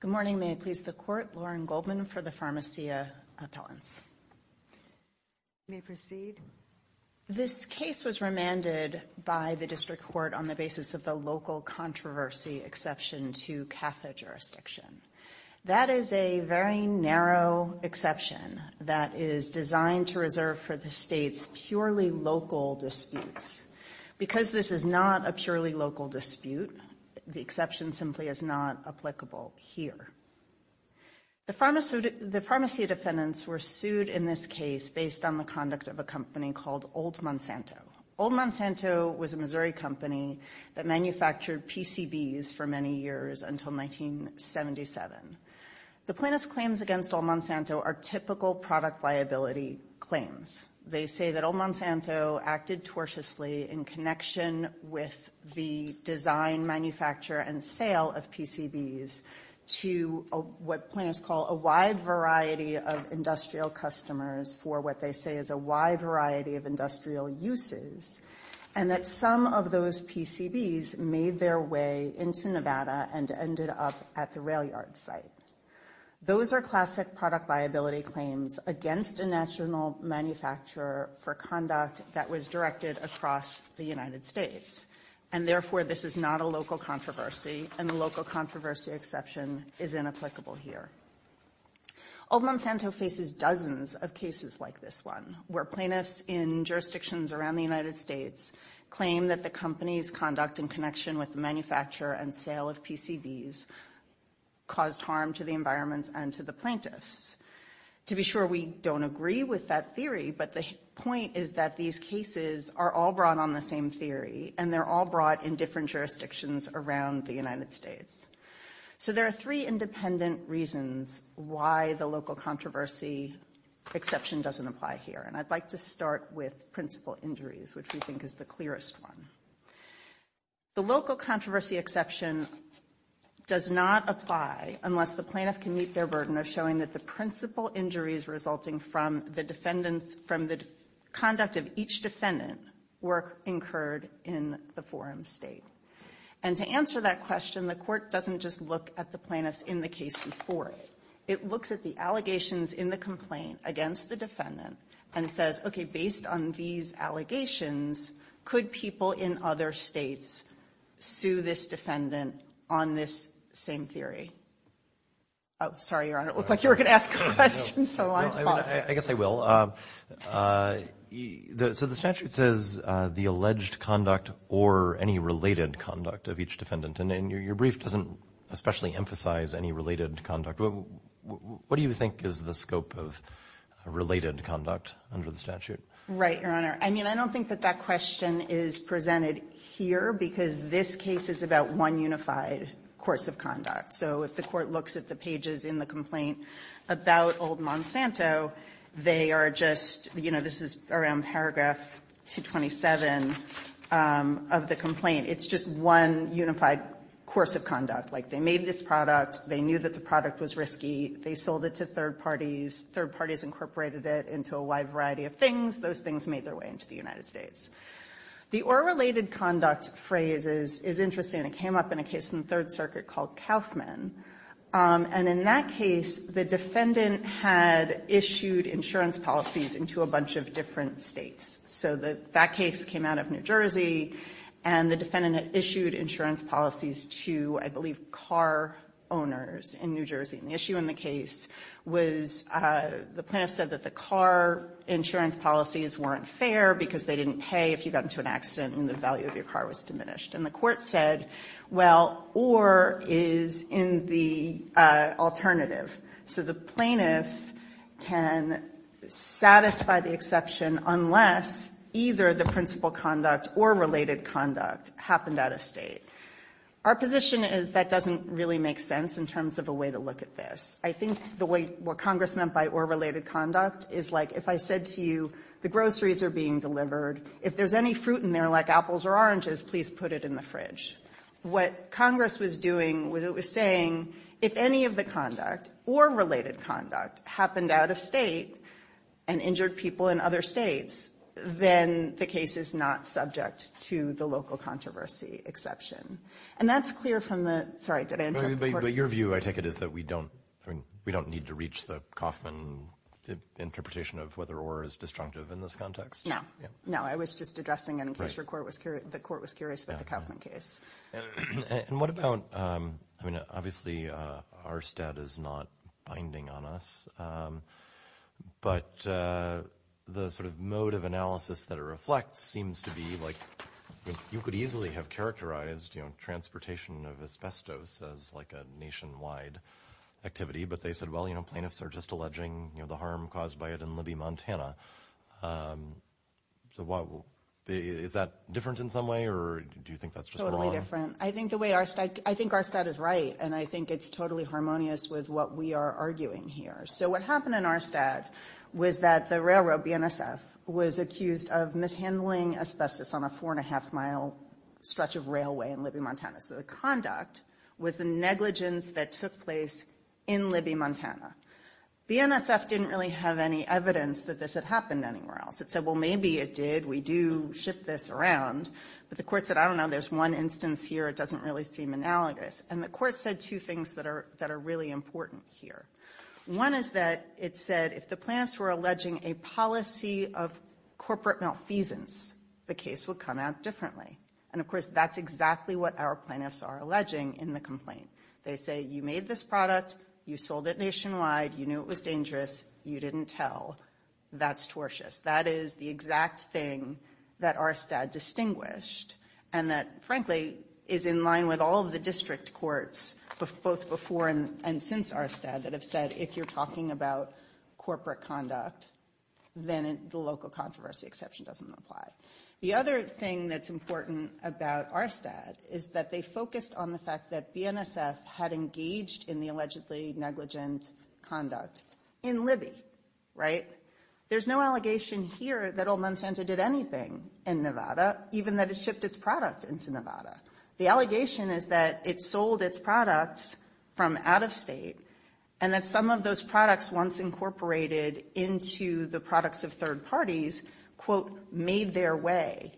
Good morning, may it please the Court, Lauren Goldman for the Pharmacia Appellants. You may proceed. This case was remanded by the District Court on the basis of the local controversy exception to CAFA jurisdiction. That is a very narrow exception that is designed to reserve for the state's purely local disputes. Because this is not a purely local dispute, the exception simply is not applicable here. The Pharmacia defendants were sued in this case based on the conduct of a company called Old Monsanto. Old Monsanto was a Missouri company that manufactured PCBs for many years until 1977. The plaintiff's claims against Old Monsanto are typical product liability claims. They say that Old Monsanto acted tortiously in connection with the design, manufacture, and sale of PCBs to what plaintiffs call a wide variety of industrial customers for what they say is a wide variety of industrial uses, and that some of those PCBs made their way into Nevada and ended up at the rail yard site. Those are classic product liability claims against a national manufacturer for conduct that was directed across the United States. And therefore, this is not a local controversy, and the local controversy exception is inapplicable here. Old Monsanto faces dozens of cases like this one, where plaintiffs in jurisdictions around the United States claim that the company's conduct in connection with the manufacture and sale of PCBs caused harm to the environments and to the plaintiffs. To be sure, we don't agree with that theory, but the point is that these cases are all brought on the same theory, and they're all brought in different jurisdictions around the United States. So there are three independent reasons why the local controversy exception doesn't apply here, and I'd like to start with principal injuries, which we think is the clearest one. The local controversy exception does not apply unless the plaintiff can meet their burden of showing that the principal injuries resulting from the conduct of each defendant were incurred in the forum state. And to answer that question, the Court doesn't just look at the plaintiffs in the case before it. It looks at the allegations in the complaint against the defendant and says, okay, based on these allegations, could people in other states sue this defendant on this same theory? Oh, sorry, Your Honor. It looked like you were going to ask a question, so I'm tossing it. I guess I will. So the statute says the alleged conduct or any related conduct of each defendant, and your brief doesn't especially emphasize any related conduct. What do you think is the scope of related conduct under the statute? Right, Your Honor. I mean, I don't think that that question is presented here because this case is about one unified course of conduct. So if the Court looks at the pages in the complaint about old Monsanto, they are just you know, this is around paragraph 227 of the complaint. It's just one unified course of conduct. Like, they made this product, they knew that the product was risky, they sold it to third parties, third parties incorporated it into a wide variety of things, those things made their way into the United States. The or related conduct phrase is interesting. It came up in a case in the Third Circuit called Kaufman, and in that case, the defendant had issued insurance policies into a bunch of different states. So that case came out of New Jersey, and the defendant had issued insurance policies to, I believe, car owners in New Jersey. And the issue in the case was the plaintiff said that the car insurance policies weren't fair because they didn't pay if you got into an accident and the value of your car was diminished. And the Court said, well, or is in the alternative. So the plaintiff can satisfy the exception unless either the principal conduct or related conduct happened out of State. Our position is that doesn't really make sense in terms of a way to look at this. I think the way what Congress meant by or related conduct is like if I said to you, the groceries are being delivered, if there's any fruit in there like apples or oranges, please put it in the fridge. What Congress was doing was it was saying if any of the conduct or related conduct happened out of State and injured people in other States, then the case is not subject to the local controversy exception. And that's clear from the sorry, did I interrupt the Court? But your view, I take it, is that we don't need to reach the Kaufman interpretation of whether or is destructive in this context? No. Yeah. No, I was just addressing it in case the Court was curious about the Kaufman case. And what about, I mean, obviously, our status is not binding on us. But the sort of mode of analysis that it reflects seems to be like you could easily have characterized transportation of asbestos as like a nationwide activity. But they said, well, you know, plaintiffs are just alleging the harm caused by it in Libby, Montana. So what is that different in some way or do you think that's totally different? I think the way our state, I think our state is right. And I think it's totally harmonious with what we are arguing here. So what happened in our stat was that the railroad BNSF was accused of mishandling asbestos on a four and a half mile stretch of railway in Libby, Montana. So the conduct with the negligence that took place in Libby, Montana, BNSF didn't really have any evidence that this had happened anywhere else. It said, well, maybe it did. We do ship this around. But the Court said, I don't know, there's one instance here, it doesn't really seem analogous. And the Court said two things that are really important here. One is that it said if the plaintiffs were alleging a policy of corporate malfeasance, the case would come out differently. And of course, that's exactly what our plaintiffs are alleging in the complaint. They say, you made this product, you sold it nationwide, you knew it was dangerous, you didn't tell. That's tortious. That is the exact thing that our stat distinguished. And that, frankly, is in line with all of the district courts, both before and since our stat, that have said if you're talking about corporate conduct, then the local controversy exception doesn't apply. The other thing that's important about our stat is that they focused on the fact that NSF had engaged in the allegedly negligent conduct in Libby, right? There's no allegation here that Old Monsanto did anything in Nevada, even that it shipped its product into Nevada. The allegation is that it sold its products from out of state, and that some of those products once incorporated into the products of third parties, quote, made their way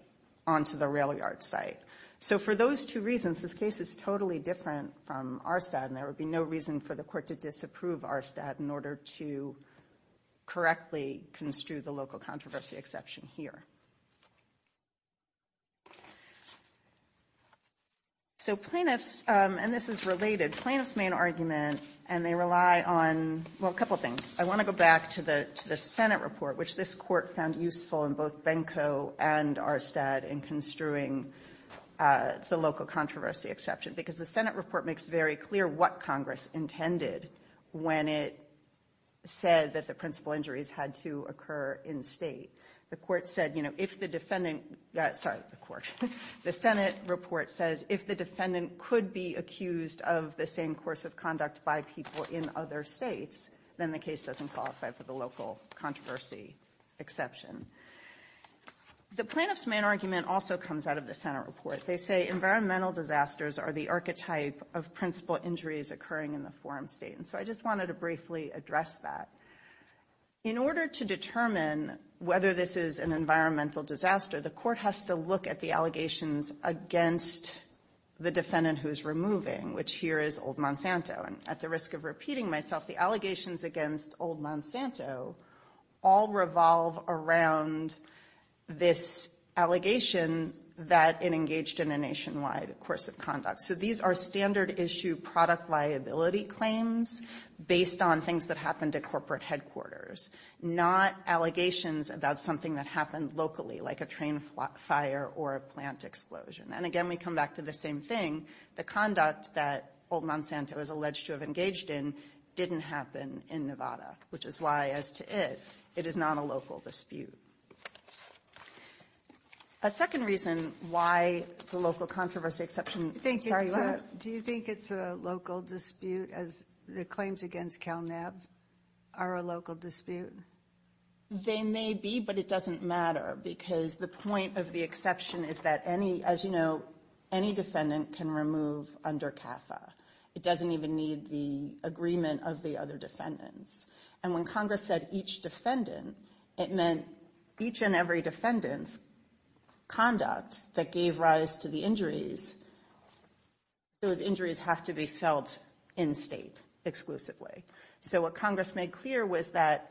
onto the rail yard site. So for those two reasons, this case is totally different from our stat, and there would be no reason for the court to disapprove our stat in order to correctly construe the local controversy exception here. So plaintiffs, and this is related, plaintiffs' main argument, and they rely on, well, a couple things. I want to go back to the Senate report, which this court found useful in both Benko and our stat in construing the local controversy exception, because the Senate report makes very clear what Congress intended when it said that the principal injuries had to occur in state. The court said, you know, if the defendant, sorry, the court, the Senate report says if the defendant could be accused of the same course of conduct by people in other states, then the case doesn't qualify for the local controversy exception. The plaintiffs' main argument also comes out of the Senate report. They say environmental disasters are the archetype of principal injuries occurring in the forum state, and so I just wanted to briefly address that. In order to determine whether this is an environmental disaster, the court has to look at the allegations against the defendant who is removing, which here is Old Monsanto, and at the risk of repeating myself, the allegations against Old Monsanto all revolve around this allegation that it engaged in a nationwide course of conduct. So these are standard issue product liability claims based on things that happened at corporate headquarters, not allegations about something that happened locally, like a train fire or a plant explosion. And again, we come back to the same thing. The conduct that Old Monsanto is alleged to have engaged in didn't happen in Nevada, which is why, as to it, it is not a local dispute. A second reason why the local controversy exception, I'm sorry, Laura? Do you think it's a local dispute as the claims against CalNeb are a local dispute? They may be, but it doesn't matter because the point of the exception is that any, as you know, defendant who is removed under CAFA, it doesn't even need the agreement of the other defendants. And when Congress said each defendant, it meant each and every defendant's conduct that gave rise to the injuries, those injuries have to be felt in state exclusively. So what Congress made clear was that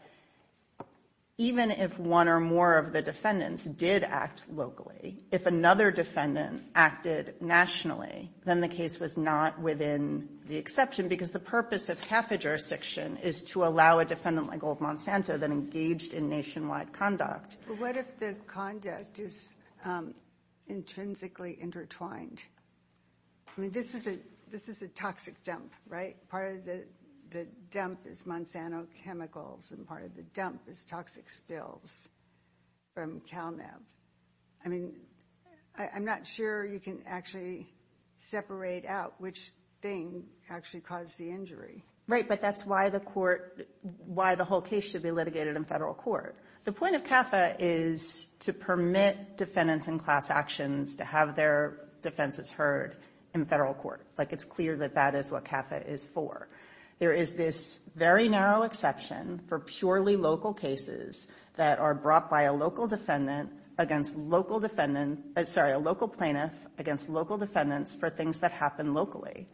even if one or more of the defendants did act locally, if another defendant acted nationally, then the case was not within the exception because the purpose of CAFA jurisdiction is to allow a defendant like Old Monsanto that engaged in nationwide conduct. What if the conduct is intrinsically intertwined? I mean, this is a toxic dump, right? Part of the dump is Monsanto chemicals and part of the dump is toxic spills from CalNeb. I mean, I'm not sure you can actually separate out which thing actually caused the injury. Right, but that's why the court, why the whole case should be litigated in federal court. The point of CAFA is to permit defendants in class actions to have their defenses heard in federal court. Like it's clear that that is what CAFA is for. There is this very narrow exception for purely local cases that are brought by a local defendant against local defendants, sorry, a local plaintiff against local defendants for things that happen locally.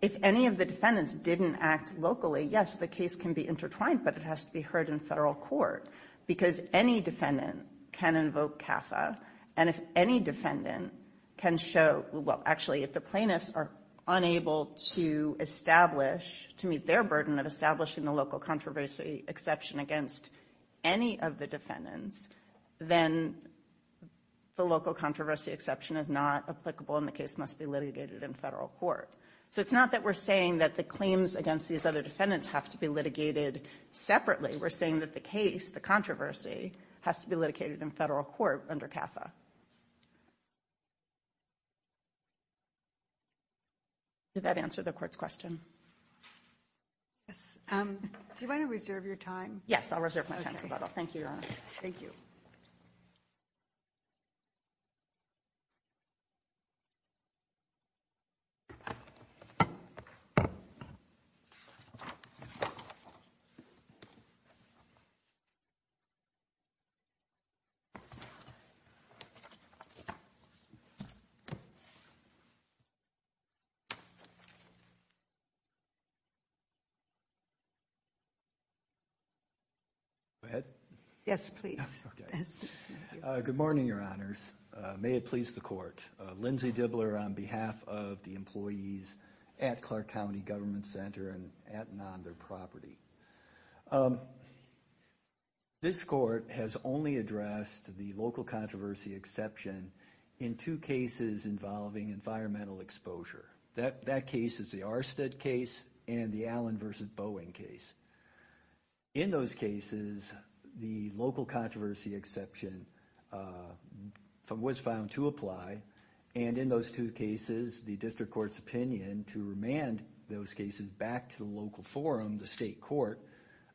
If any of the defendants didn't act locally, yes, the case can be intertwined, but it has to be heard in federal court because any defendant can invoke CAFA. And if any defendant can show, well, actually, if the plaintiffs are unable to establish, to meet their burden of establishing the local controversy exception against any of the defendants, then the local controversy exception is not applicable and the case must be litigated in federal court. So it's not that we're saying that the claims against these other defendants have to be litigated separately. We're saying that the case, the controversy, has to be litigated in federal court under CAFA. Did that answer the court's question? Yes. Do you want to reserve your time? Yes, I'll reserve my time for that. Thank you, Your Honor. Thank you. Go ahead. Yes, please. Okay. Good morning, Your Honors. May it please the court. Lindsey Dibbler on behalf of the employees at Clark County Government Center and at and on their property. This court has only addressed the local controversy exception in two cases involving environmental exposure. That case is the Arstead case and the Allen v. Boeing case. In those cases, the local controversy exception was found to apply and in those two cases, the district court's opinion to remand those cases back to the local forum, the state court,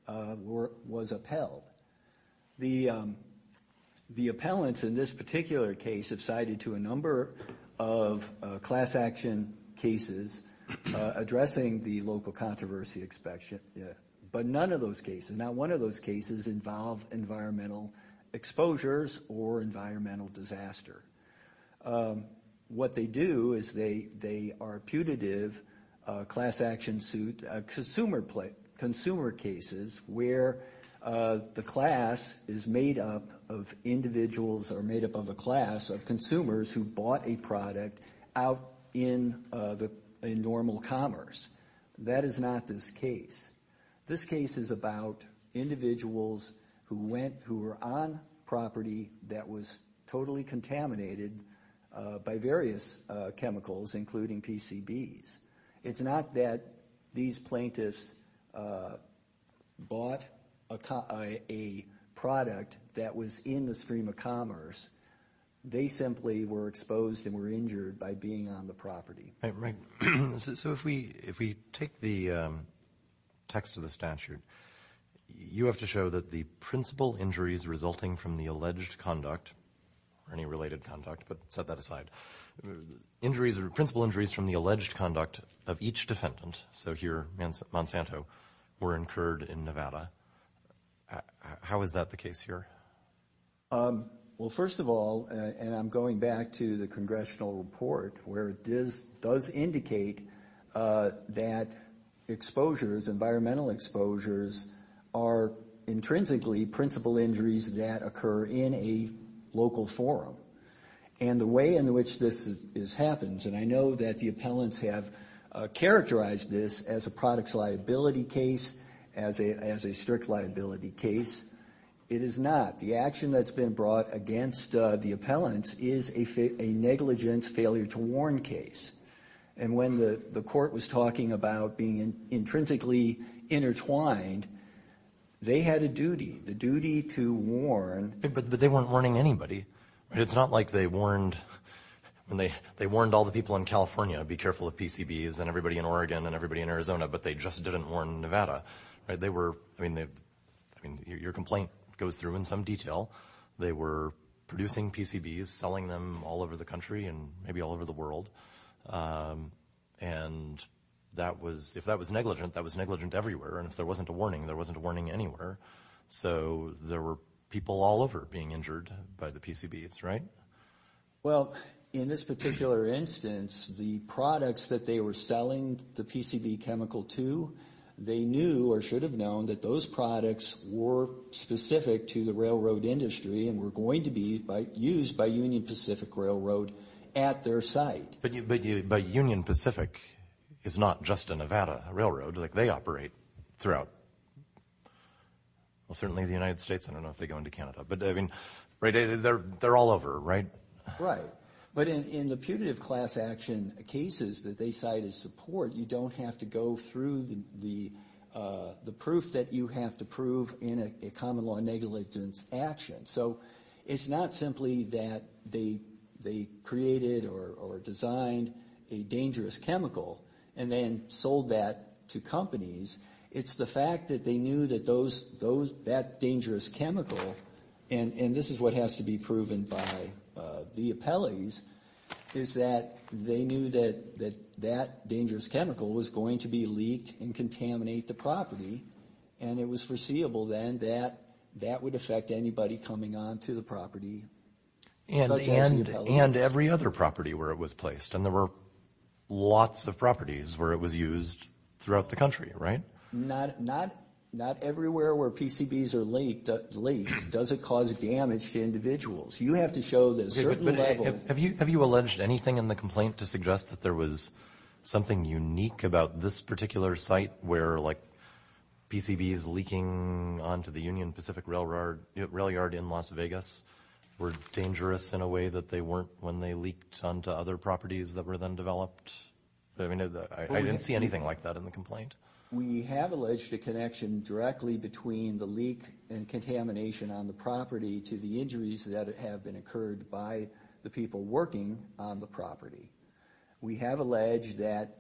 was upheld. The appellants in this particular case have cited to a number of class action cases addressing the local controversy exception, but none of those cases, not one of those cases involve environmental exposures or environmental disaster. What they do is they are putative class action suit consumer cases where the class is made up of individuals or made up of a class of consumers who bought a product out in normal commerce. That is not this case. This case is about individuals who were on property that was totally contaminated by various chemicals, including PCBs. It's not that these plaintiffs bought a product that was in the stream of commerce. They simply were exposed and were injured by being on the property. Right. So if we take the text of the statute, you have to show that the principal injuries resulting from the alleged conduct or any related conduct, but set that aside, injuries or principal injuries from the alleged conduct of each defendant, so here Monsanto, were incurred in Nevada. How is that the case here? Well, first of all, and I'm going back to the congressional report where it does indicate that exposures, environmental exposures are intrinsically principal injuries that occur in a local forum. And the way in which this happens, and I know that the appellants have characterized this as a products liability case, as a strict liability case, it is not. The action that's been brought against the appellants is a negligence failure to warn case. And when the court was talking about being intrinsically intertwined, they had a duty, the duty to warn. But they weren't warning anybody. It's not like they warned all the people in California, be careful of PCBs, and everybody in Oregon, and everybody in Arizona, but they just didn't warn Nevada. They were, I mean, your complaint goes through in some detail. They were producing PCBs, selling them all over the country, and maybe all over the world. And that was, if that was negligent, that was negligent everywhere. And if there wasn't a warning, there wasn't a warning anywhere. So there were people all over being injured by the PCBs, right? Well, in this particular instance, the products that they were selling the PCB chemical to, they knew or should have known that those products were specific to the railroad industry and were going to be used by Union Pacific Railroad at their site. But Union Pacific is not just a Nevada railroad. Like, they operate throughout, well, certainly the United States. I don't know if they go into Canada. But, I mean, they're all over, right? Right. But in the punitive class action cases that they cite as support, you don't have to go through the proof that you have to prove in a common law negligence action. So it's not simply that they created or designed a dangerous chemical and then sold that to companies. It's the fact that they knew that that dangerous chemical, and this is what has to be proven by the appellees, is that they knew that that dangerous chemical was going to be leaked and contaminate the property. And it was foreseeable then that that would affect anybody coming onto the property. And every other property where it was placed. And there were lots of properties where it was used throughout the country, right? Not everywhere where PCBs are leaked does it cause damage to individuals. You have to show that a certain level. Have you alleged anything in the complaint to suggest that there was something unique about this particular site where, like, PCBs leaking onto the Union Pacific Railroad, rail yard in Las Vegas, were dangerous in a way that they weren't when they leaked onto other properties that were then developed? I mean, I didn't see anything like that in the complaint. We have alleged a connection directly between the leak and contamination on the property to the injuries that have been occurred by the people working on the property. We have alleged that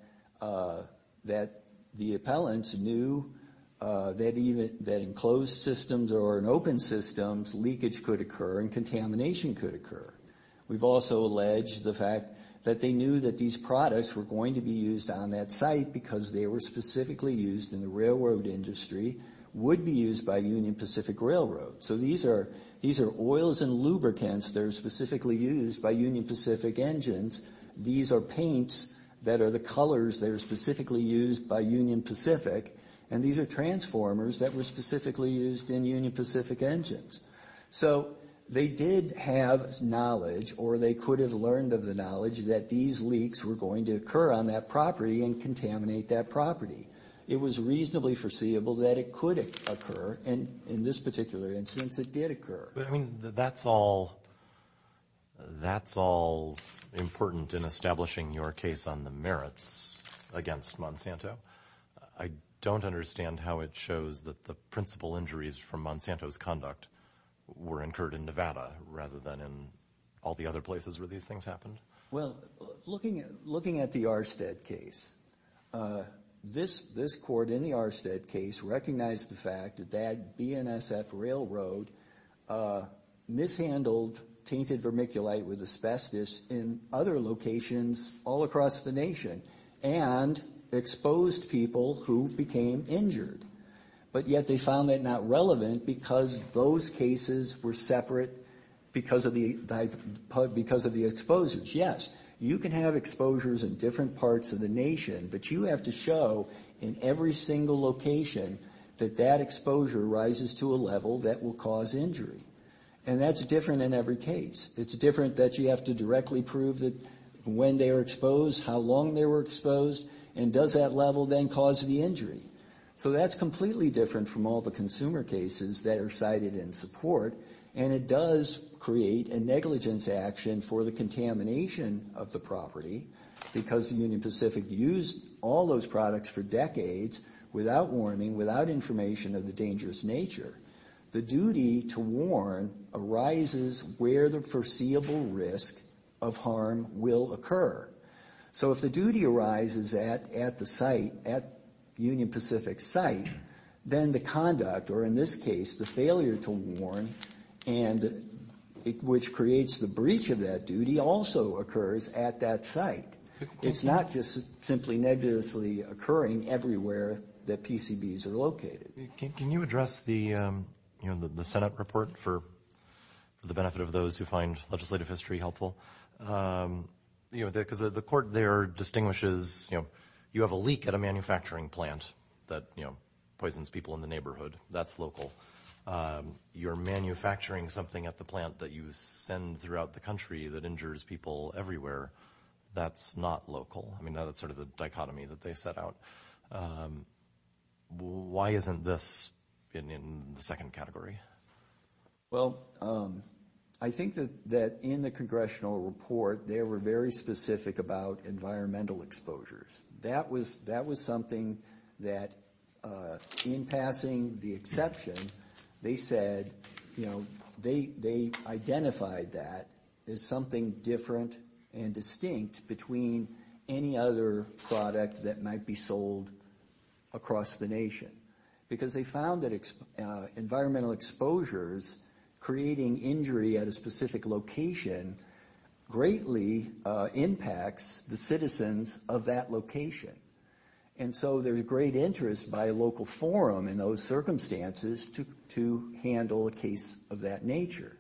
the appellants knew that in closed systems or in open systems, leakage could occur and contamination could occur. We've also alleged the fact that they knew that these products were going to be used on that site because they were specifically used in the railroad industry, would be used by Union Pacific Railroad. So these are oils and lubricants that are specifically used by Union Pacific Engines. These are paints that are the colors that are specifically used by Union Pacific. And these are transformers that were specifically used in Union Pacific Engines. So they did have knowledge, or they could have learned of the knowledge, that these leaks were going to occur on that property and contaminate that property. It was reasonably foreseeable that it could occur, and in this particular instance, it did occur. But, I mean, that's all important in establishing your case on the merits against Monsanto. I don't understand how it shows that the principal injuries from Monsanto's conduct were incurred in Nevada rather than in all the other places where these things happened. Well, looking at the Arstead case, this court in the Arstead case recognized the fact that that BNSF railroad mishandled tainted vermiculite with asbestos in other locations all across the nation and exposed people who became injured. But yet they found that not relevant because those cases were separate because of the exposures. Yes, you can have exposures in different parts of the nation, but you have to show in every single location that that exposure rises to a level that will cause injury. And that's different in every case. It's different that you have to directly prove when they were exposed, how long they were exposed, and does that level then cause the injury. So that's completely different from all the consumer cases that are cited in support, and it does create a negligence action for the contamination of the property because the Union Pacific used all those products for decades without warning, without information of the dangerous nature. The duty to warn arises where the foreseeable risk of harm will occur. So if the duty arises at the site, at Union Pacific's site, then the conduct, or in this case the failure to warn, which creates the breach of that duty, also occurs at that site. It's not just simply negatively occurring everywhere that PCBs are located. Can you address the Senate report for the benefit of those who find legislative history helpful? You know, because the court there distinguishes, you know, you have a leak at a manufacturing plant that, you know, poisons people in the neighborhood. That's local. You're manufacturing something at the plant that you send throughout the country that injures people everywhere. That's not local. I mean, that's sort of the dichotomy that they set out. Why isn't this in the second category? Well, I think that in the congressional report they were very specific about environmental exposures. That was something that, in passing the exception, they said, you know, they identified that as something different and distinct between any other product that might be sold across the nation because they found that environmental exposures creating injury at a specific location greatly impacts the citizens of that location. And so there's great interest by a local forum in those circumstances to handle a case of that nature.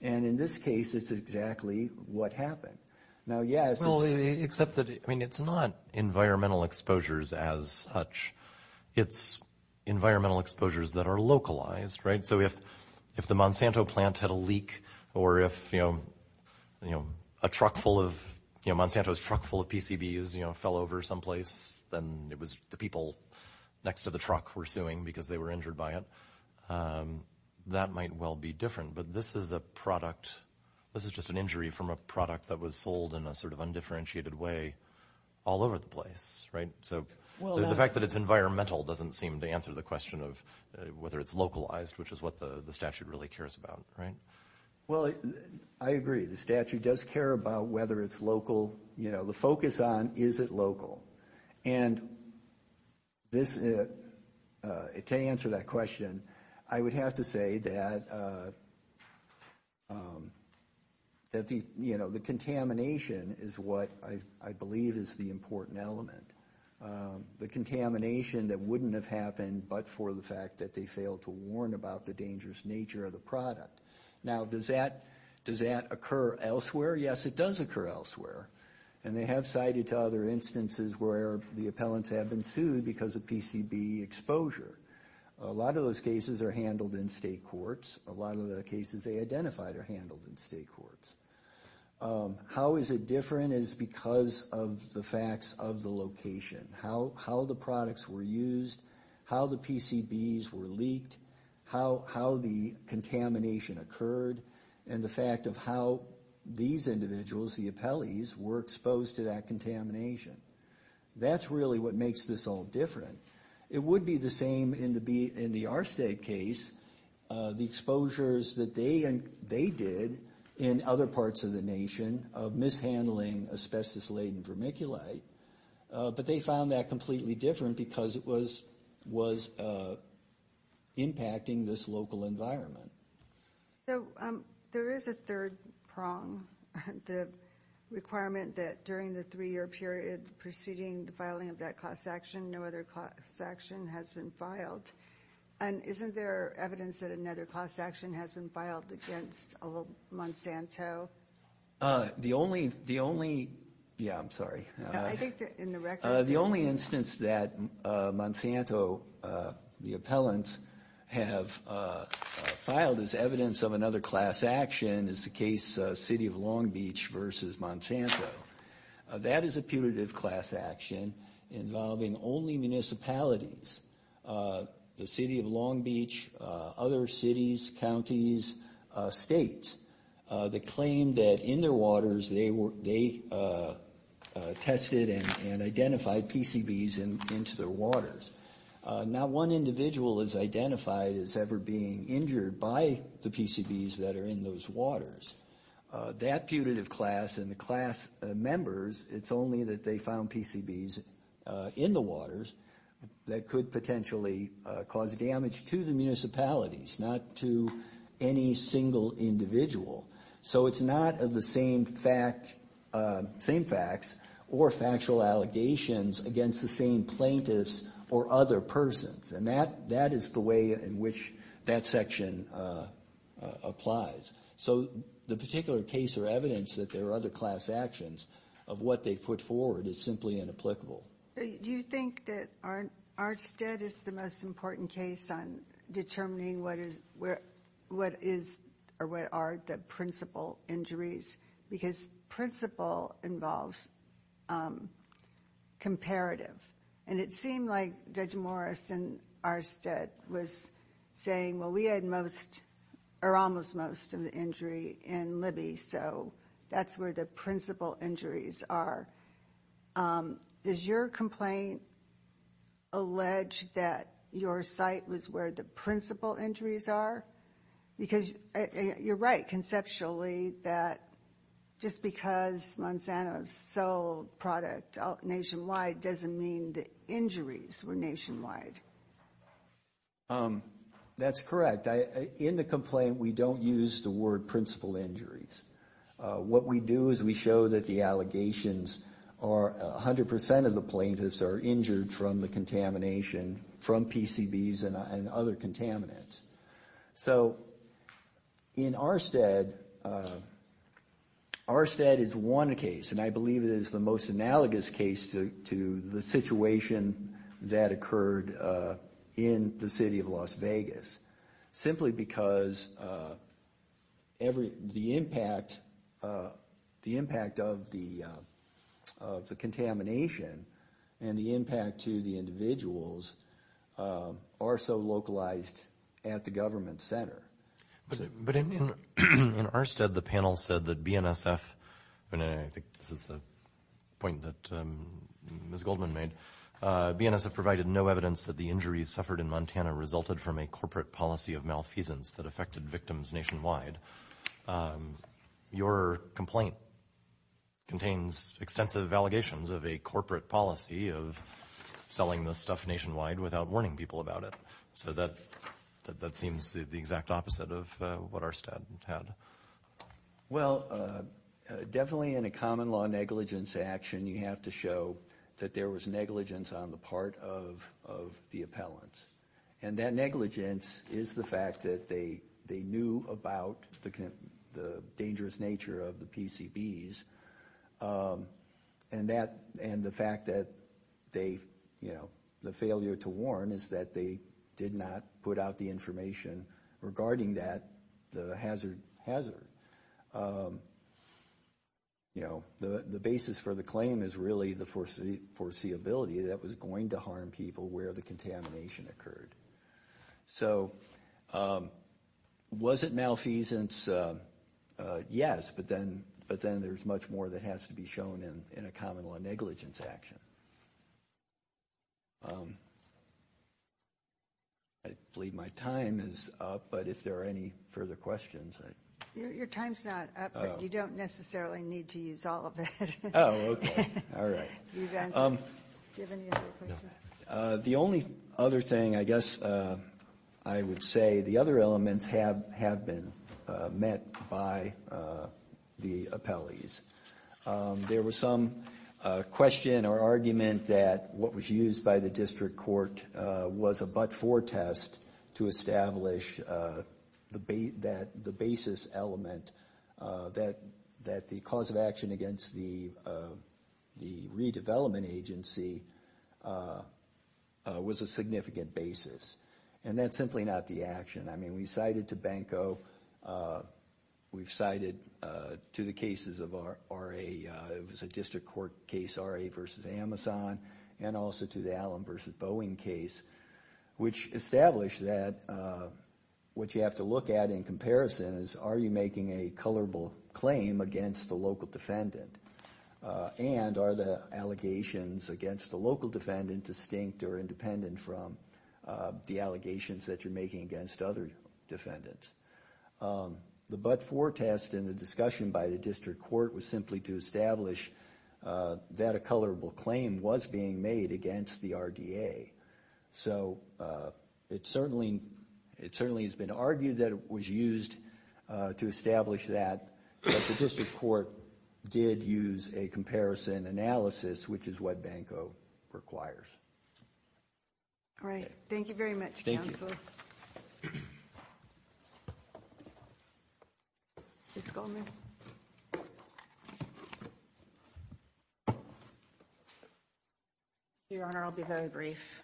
And in this case, it's exactly what happened. Now, yes, it's- Well, except that, I mean, it's not environmental exposures as such. It's environmental exposures that are localized, right? So if the Monsanto plant had a leak or if, you know, a truck full of- you know, Monsanto's truck full of PCBs, you know, fell over someplace, then it was the people next to the truck were suing because they were injured by it. That might well be different, but this is a product- this is just an injury from a product that was sold in a sort of undifferentiated way all over the place, right? So the fact that it's environmental doesn't seem to answer the question of whether it's localized, which is what the statute really cares about, right? Well, I agree. The statute does care about whether it's local. You know, the focus on is it local. And to answer that question, I would have to say that, you know, the contamination is what I believe is the important element. The contamination that wouldn't have happened but for the fact that they failed to warn about the dangerous nature of the product. Now, does that occur elsewhere? Yes, it does occur elsewhere. And they have cited to other instances where the appellants have been sued because of PCB exposure. A lot of those cases are handled in state courts. A lot of the cases they identified are handled in state courts. How is it different is because of the facts of the location. How the products were used, how the PCBs were leaked, how the contamination occurred, and the fact of how these individuals, the appellees, were exposed to that contamination. That's really what makes this all different. It would be the same in the R-State case, the exposures that they did in other parts of the nation of mishandling asbestos-laden vermiculite. But they found that completely different because it was impacting this local environment. So there is a third prong, the requirement that during the three-year period preceding the filing of that cost action, no other cost action has been filed. And isn't there evidence that another cost action has been filed against old Monsanto? The only instance that Monsanto, the appellants, have filed as evidence of another class action is the case of City of Long Beach versus Monsanto. That is a putative class action involving only municipalities, the City of Long Beach, other cities, counties, states, that claim that in their waters they tested and identified PCBs into their waters. Not one individual is identified as ever being injured by the PCBs that are in those waters. That putative class and the class members, it's only that they found PCBs in the waters that could potentially cause damage to the municipalities, not to any single individual. So it's not the same facts or factual allegations against the same plaintiffs or other persons. And that is the way in which that section applies. So the particular case or evidence that there are other class actions of what they put forward is simply inapplicable. Do you think that Arstead is the most important case on determining what are the principal injuries? Because principal involves comparative. And it seemed like Judge Morris in Arstead was saying, well, we had most or almost most of the injury in Libby. So that's where the principal injuries are. Is your complaint alleged that your site was where the principal injuries are? Because you're right, conceptually, that just because Monsanto sold product nationwide doesn't mean the injuries were nationwide. That's correct. In the complaint, we don't use the word principal injuries. What we do is we show that the allegations are 100 percent of the plaintiffs are injured from the contamination from PCBs and other contaminants. So in Arstead, Arstead is one case, and I believe it is the most analogous case to the situation that occurred in the city of Las Vegas, simply because the impact of the contamination and the impact to the individuals are so localized at the government center. But in Arstead, the panel said that BNSF, and I think this is the point that Ms. Goldman made, BNSF provided no evidence that the injuries suffered in Montana resulted from a corporate policy of malfeasance that affected victims nationwide. Your complaint contains extensive allegations of a corporate policy of selling this stuff nationwide without warning people about it. So that seems the exact opposite of what Arstead had. Well, definitely in a common law negligence action, you have to show that there was negligence on the part of the appellants. And that negligence is the fact that they knew about the dangerous nature of the PCBs. And that, and the fact that they, you know, the failure to warn is that they did not put out the information regarding that, the hazard. You know, the basis for the claim is really the foreseeability that was going to harm people where the contamination occurred. So was it malfeasance? Yes. But then there's much more that has to be shown in a common law negligence action. I believe my time is up, but if there are any further questions. Your time's not up, but you don't necessarily need to use all of it. Oh, okay. All right. Do you have any other questions? The only other thing I guess I would say, the other elements have been met by the appellees. There was some question or argument that what was used by the district court was a but-for test to establish the basis element that the cause of action against the redevelopment agency was a significant basis. And that's simply not the action. I mean, we cited to Banco, we've cited to the cases of RA, it was a district court case, RA versus Amazon, and also to the Allen versus Boeing case, which established that what you have to look at in comparison is are you making a colorable claim against the local defendant? And are the allegations against the local defendant distinct or independent from the allegations that you're making against other defendants? The but-for test in the discussion by the district court was simply to establish that a colorable claim was being made against the RDA. So it certainly has been argued that it was used to establish that, but the district court did use a comparison analysis, which is what Banco requires. All right. Thank you very much, Counsel. Thank you. Ms. Goldman? Your Honor, I'll be very brief.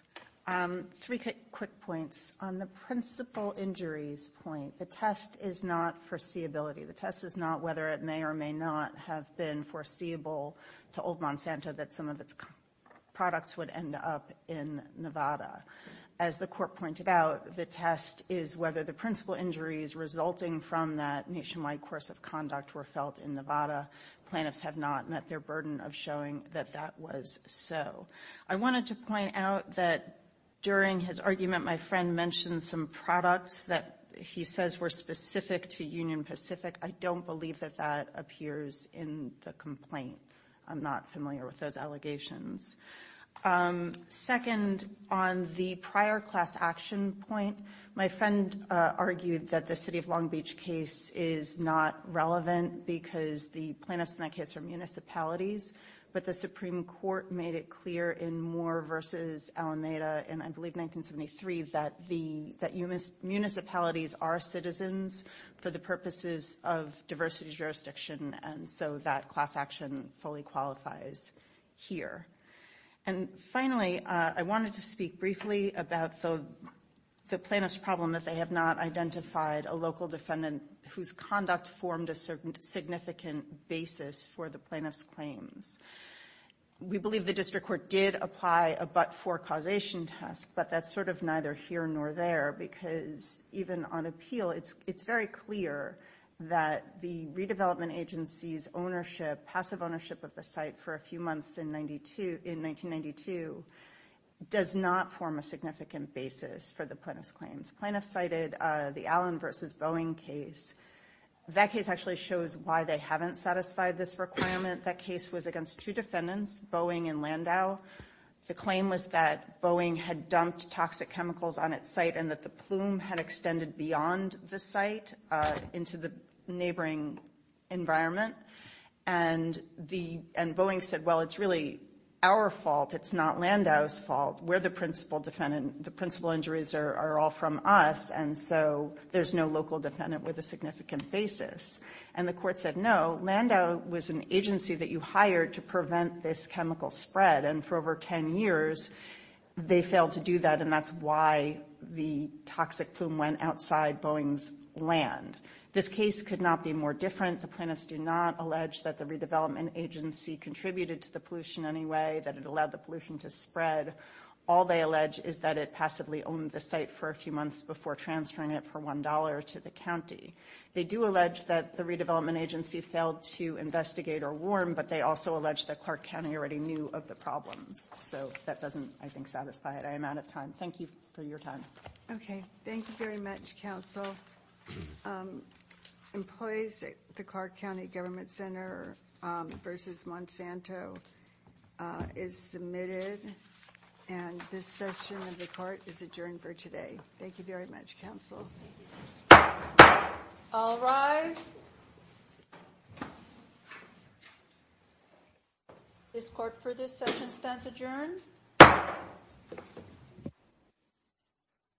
Three quick points. On the principal injuries point, the test is not foreseeability. The test is not whether it may or may not have been foreseeable to Old Monsanto that some of its products would end up in Nevada. As the court pointed out, the test is whether the principal injuries resulting from that nationwide course of conduct were felt in Nevada. Plaintiffs have not met their burden of showing that that was so. I wanted to point out that during his argument, my friend mentioned some products that he says were specific to Union Pacific. I don't believe that that appears in the complaint. I'm not familiar with those allegations. Second, on the prior class action point, my friend argued that the City of Long Beach case is not relevant because the plaintiffs in that case are municipalities, but the Supreme Court made it clear in Moore v. Alameda in, I believe, 1973, that municipalities are citizens for the purposes of diversity jurisdiction, and so that class action fully qualifies here. And finally, I wanted to speak briefly about the plaintiff's problem that they have not identified a local defendant whose conduct formed a certain significant basis for the plaintiff's claims. We believe the district court did apply a but-for causation test, but that's sort of neither here nor there, because even on appeal, it's very clear that the redevelopment agency's ownership, passive ownership of the site for a few months in 1992 does not form a significant basis for the plaintiff's claims. The plaintiff cited the Allen v. Boeing case. That case actually shows why they haven't satisfied this requirement. That case was against two defendants, Boeing and Landau. The claim was that Boeing had dumped toxic chemicals on its site and that the plume had extended beyond the site into the neighboring environment. And Boeing said, well, it's really our fault. It's not Landau's fault. We're the principal defendant. The principal injuries are all from us, and so there's no local defendant with a significant basis. And the court said, no, Landau was an agency that you hired to prevent this chemical spread. And for over 10 years, they failed to do that, and that's why the toxic plume went outside Boeing's land. This case could not be more different. The plaintiffs do not allege that the redevelopment agency contributed to the pollution in any way, that it allowed the pollution to spread. All they allege is that it passively owned the site for a few months before transferring it for $1 to the county. They do allege that the redevelopment agency failed to investigate or warn, but they also allege that Clark County already knew of the problems. So that doesn't, I think, satisfy it. I am out of time. Thank you for your time. Okay. Thank you very much, counsel. Employees, the Clark County Government Center v. Monsanto is submitted, and this session of the court is adjourned for today. Thank you very much, counsel. All rise. This court for this session stands adjourned.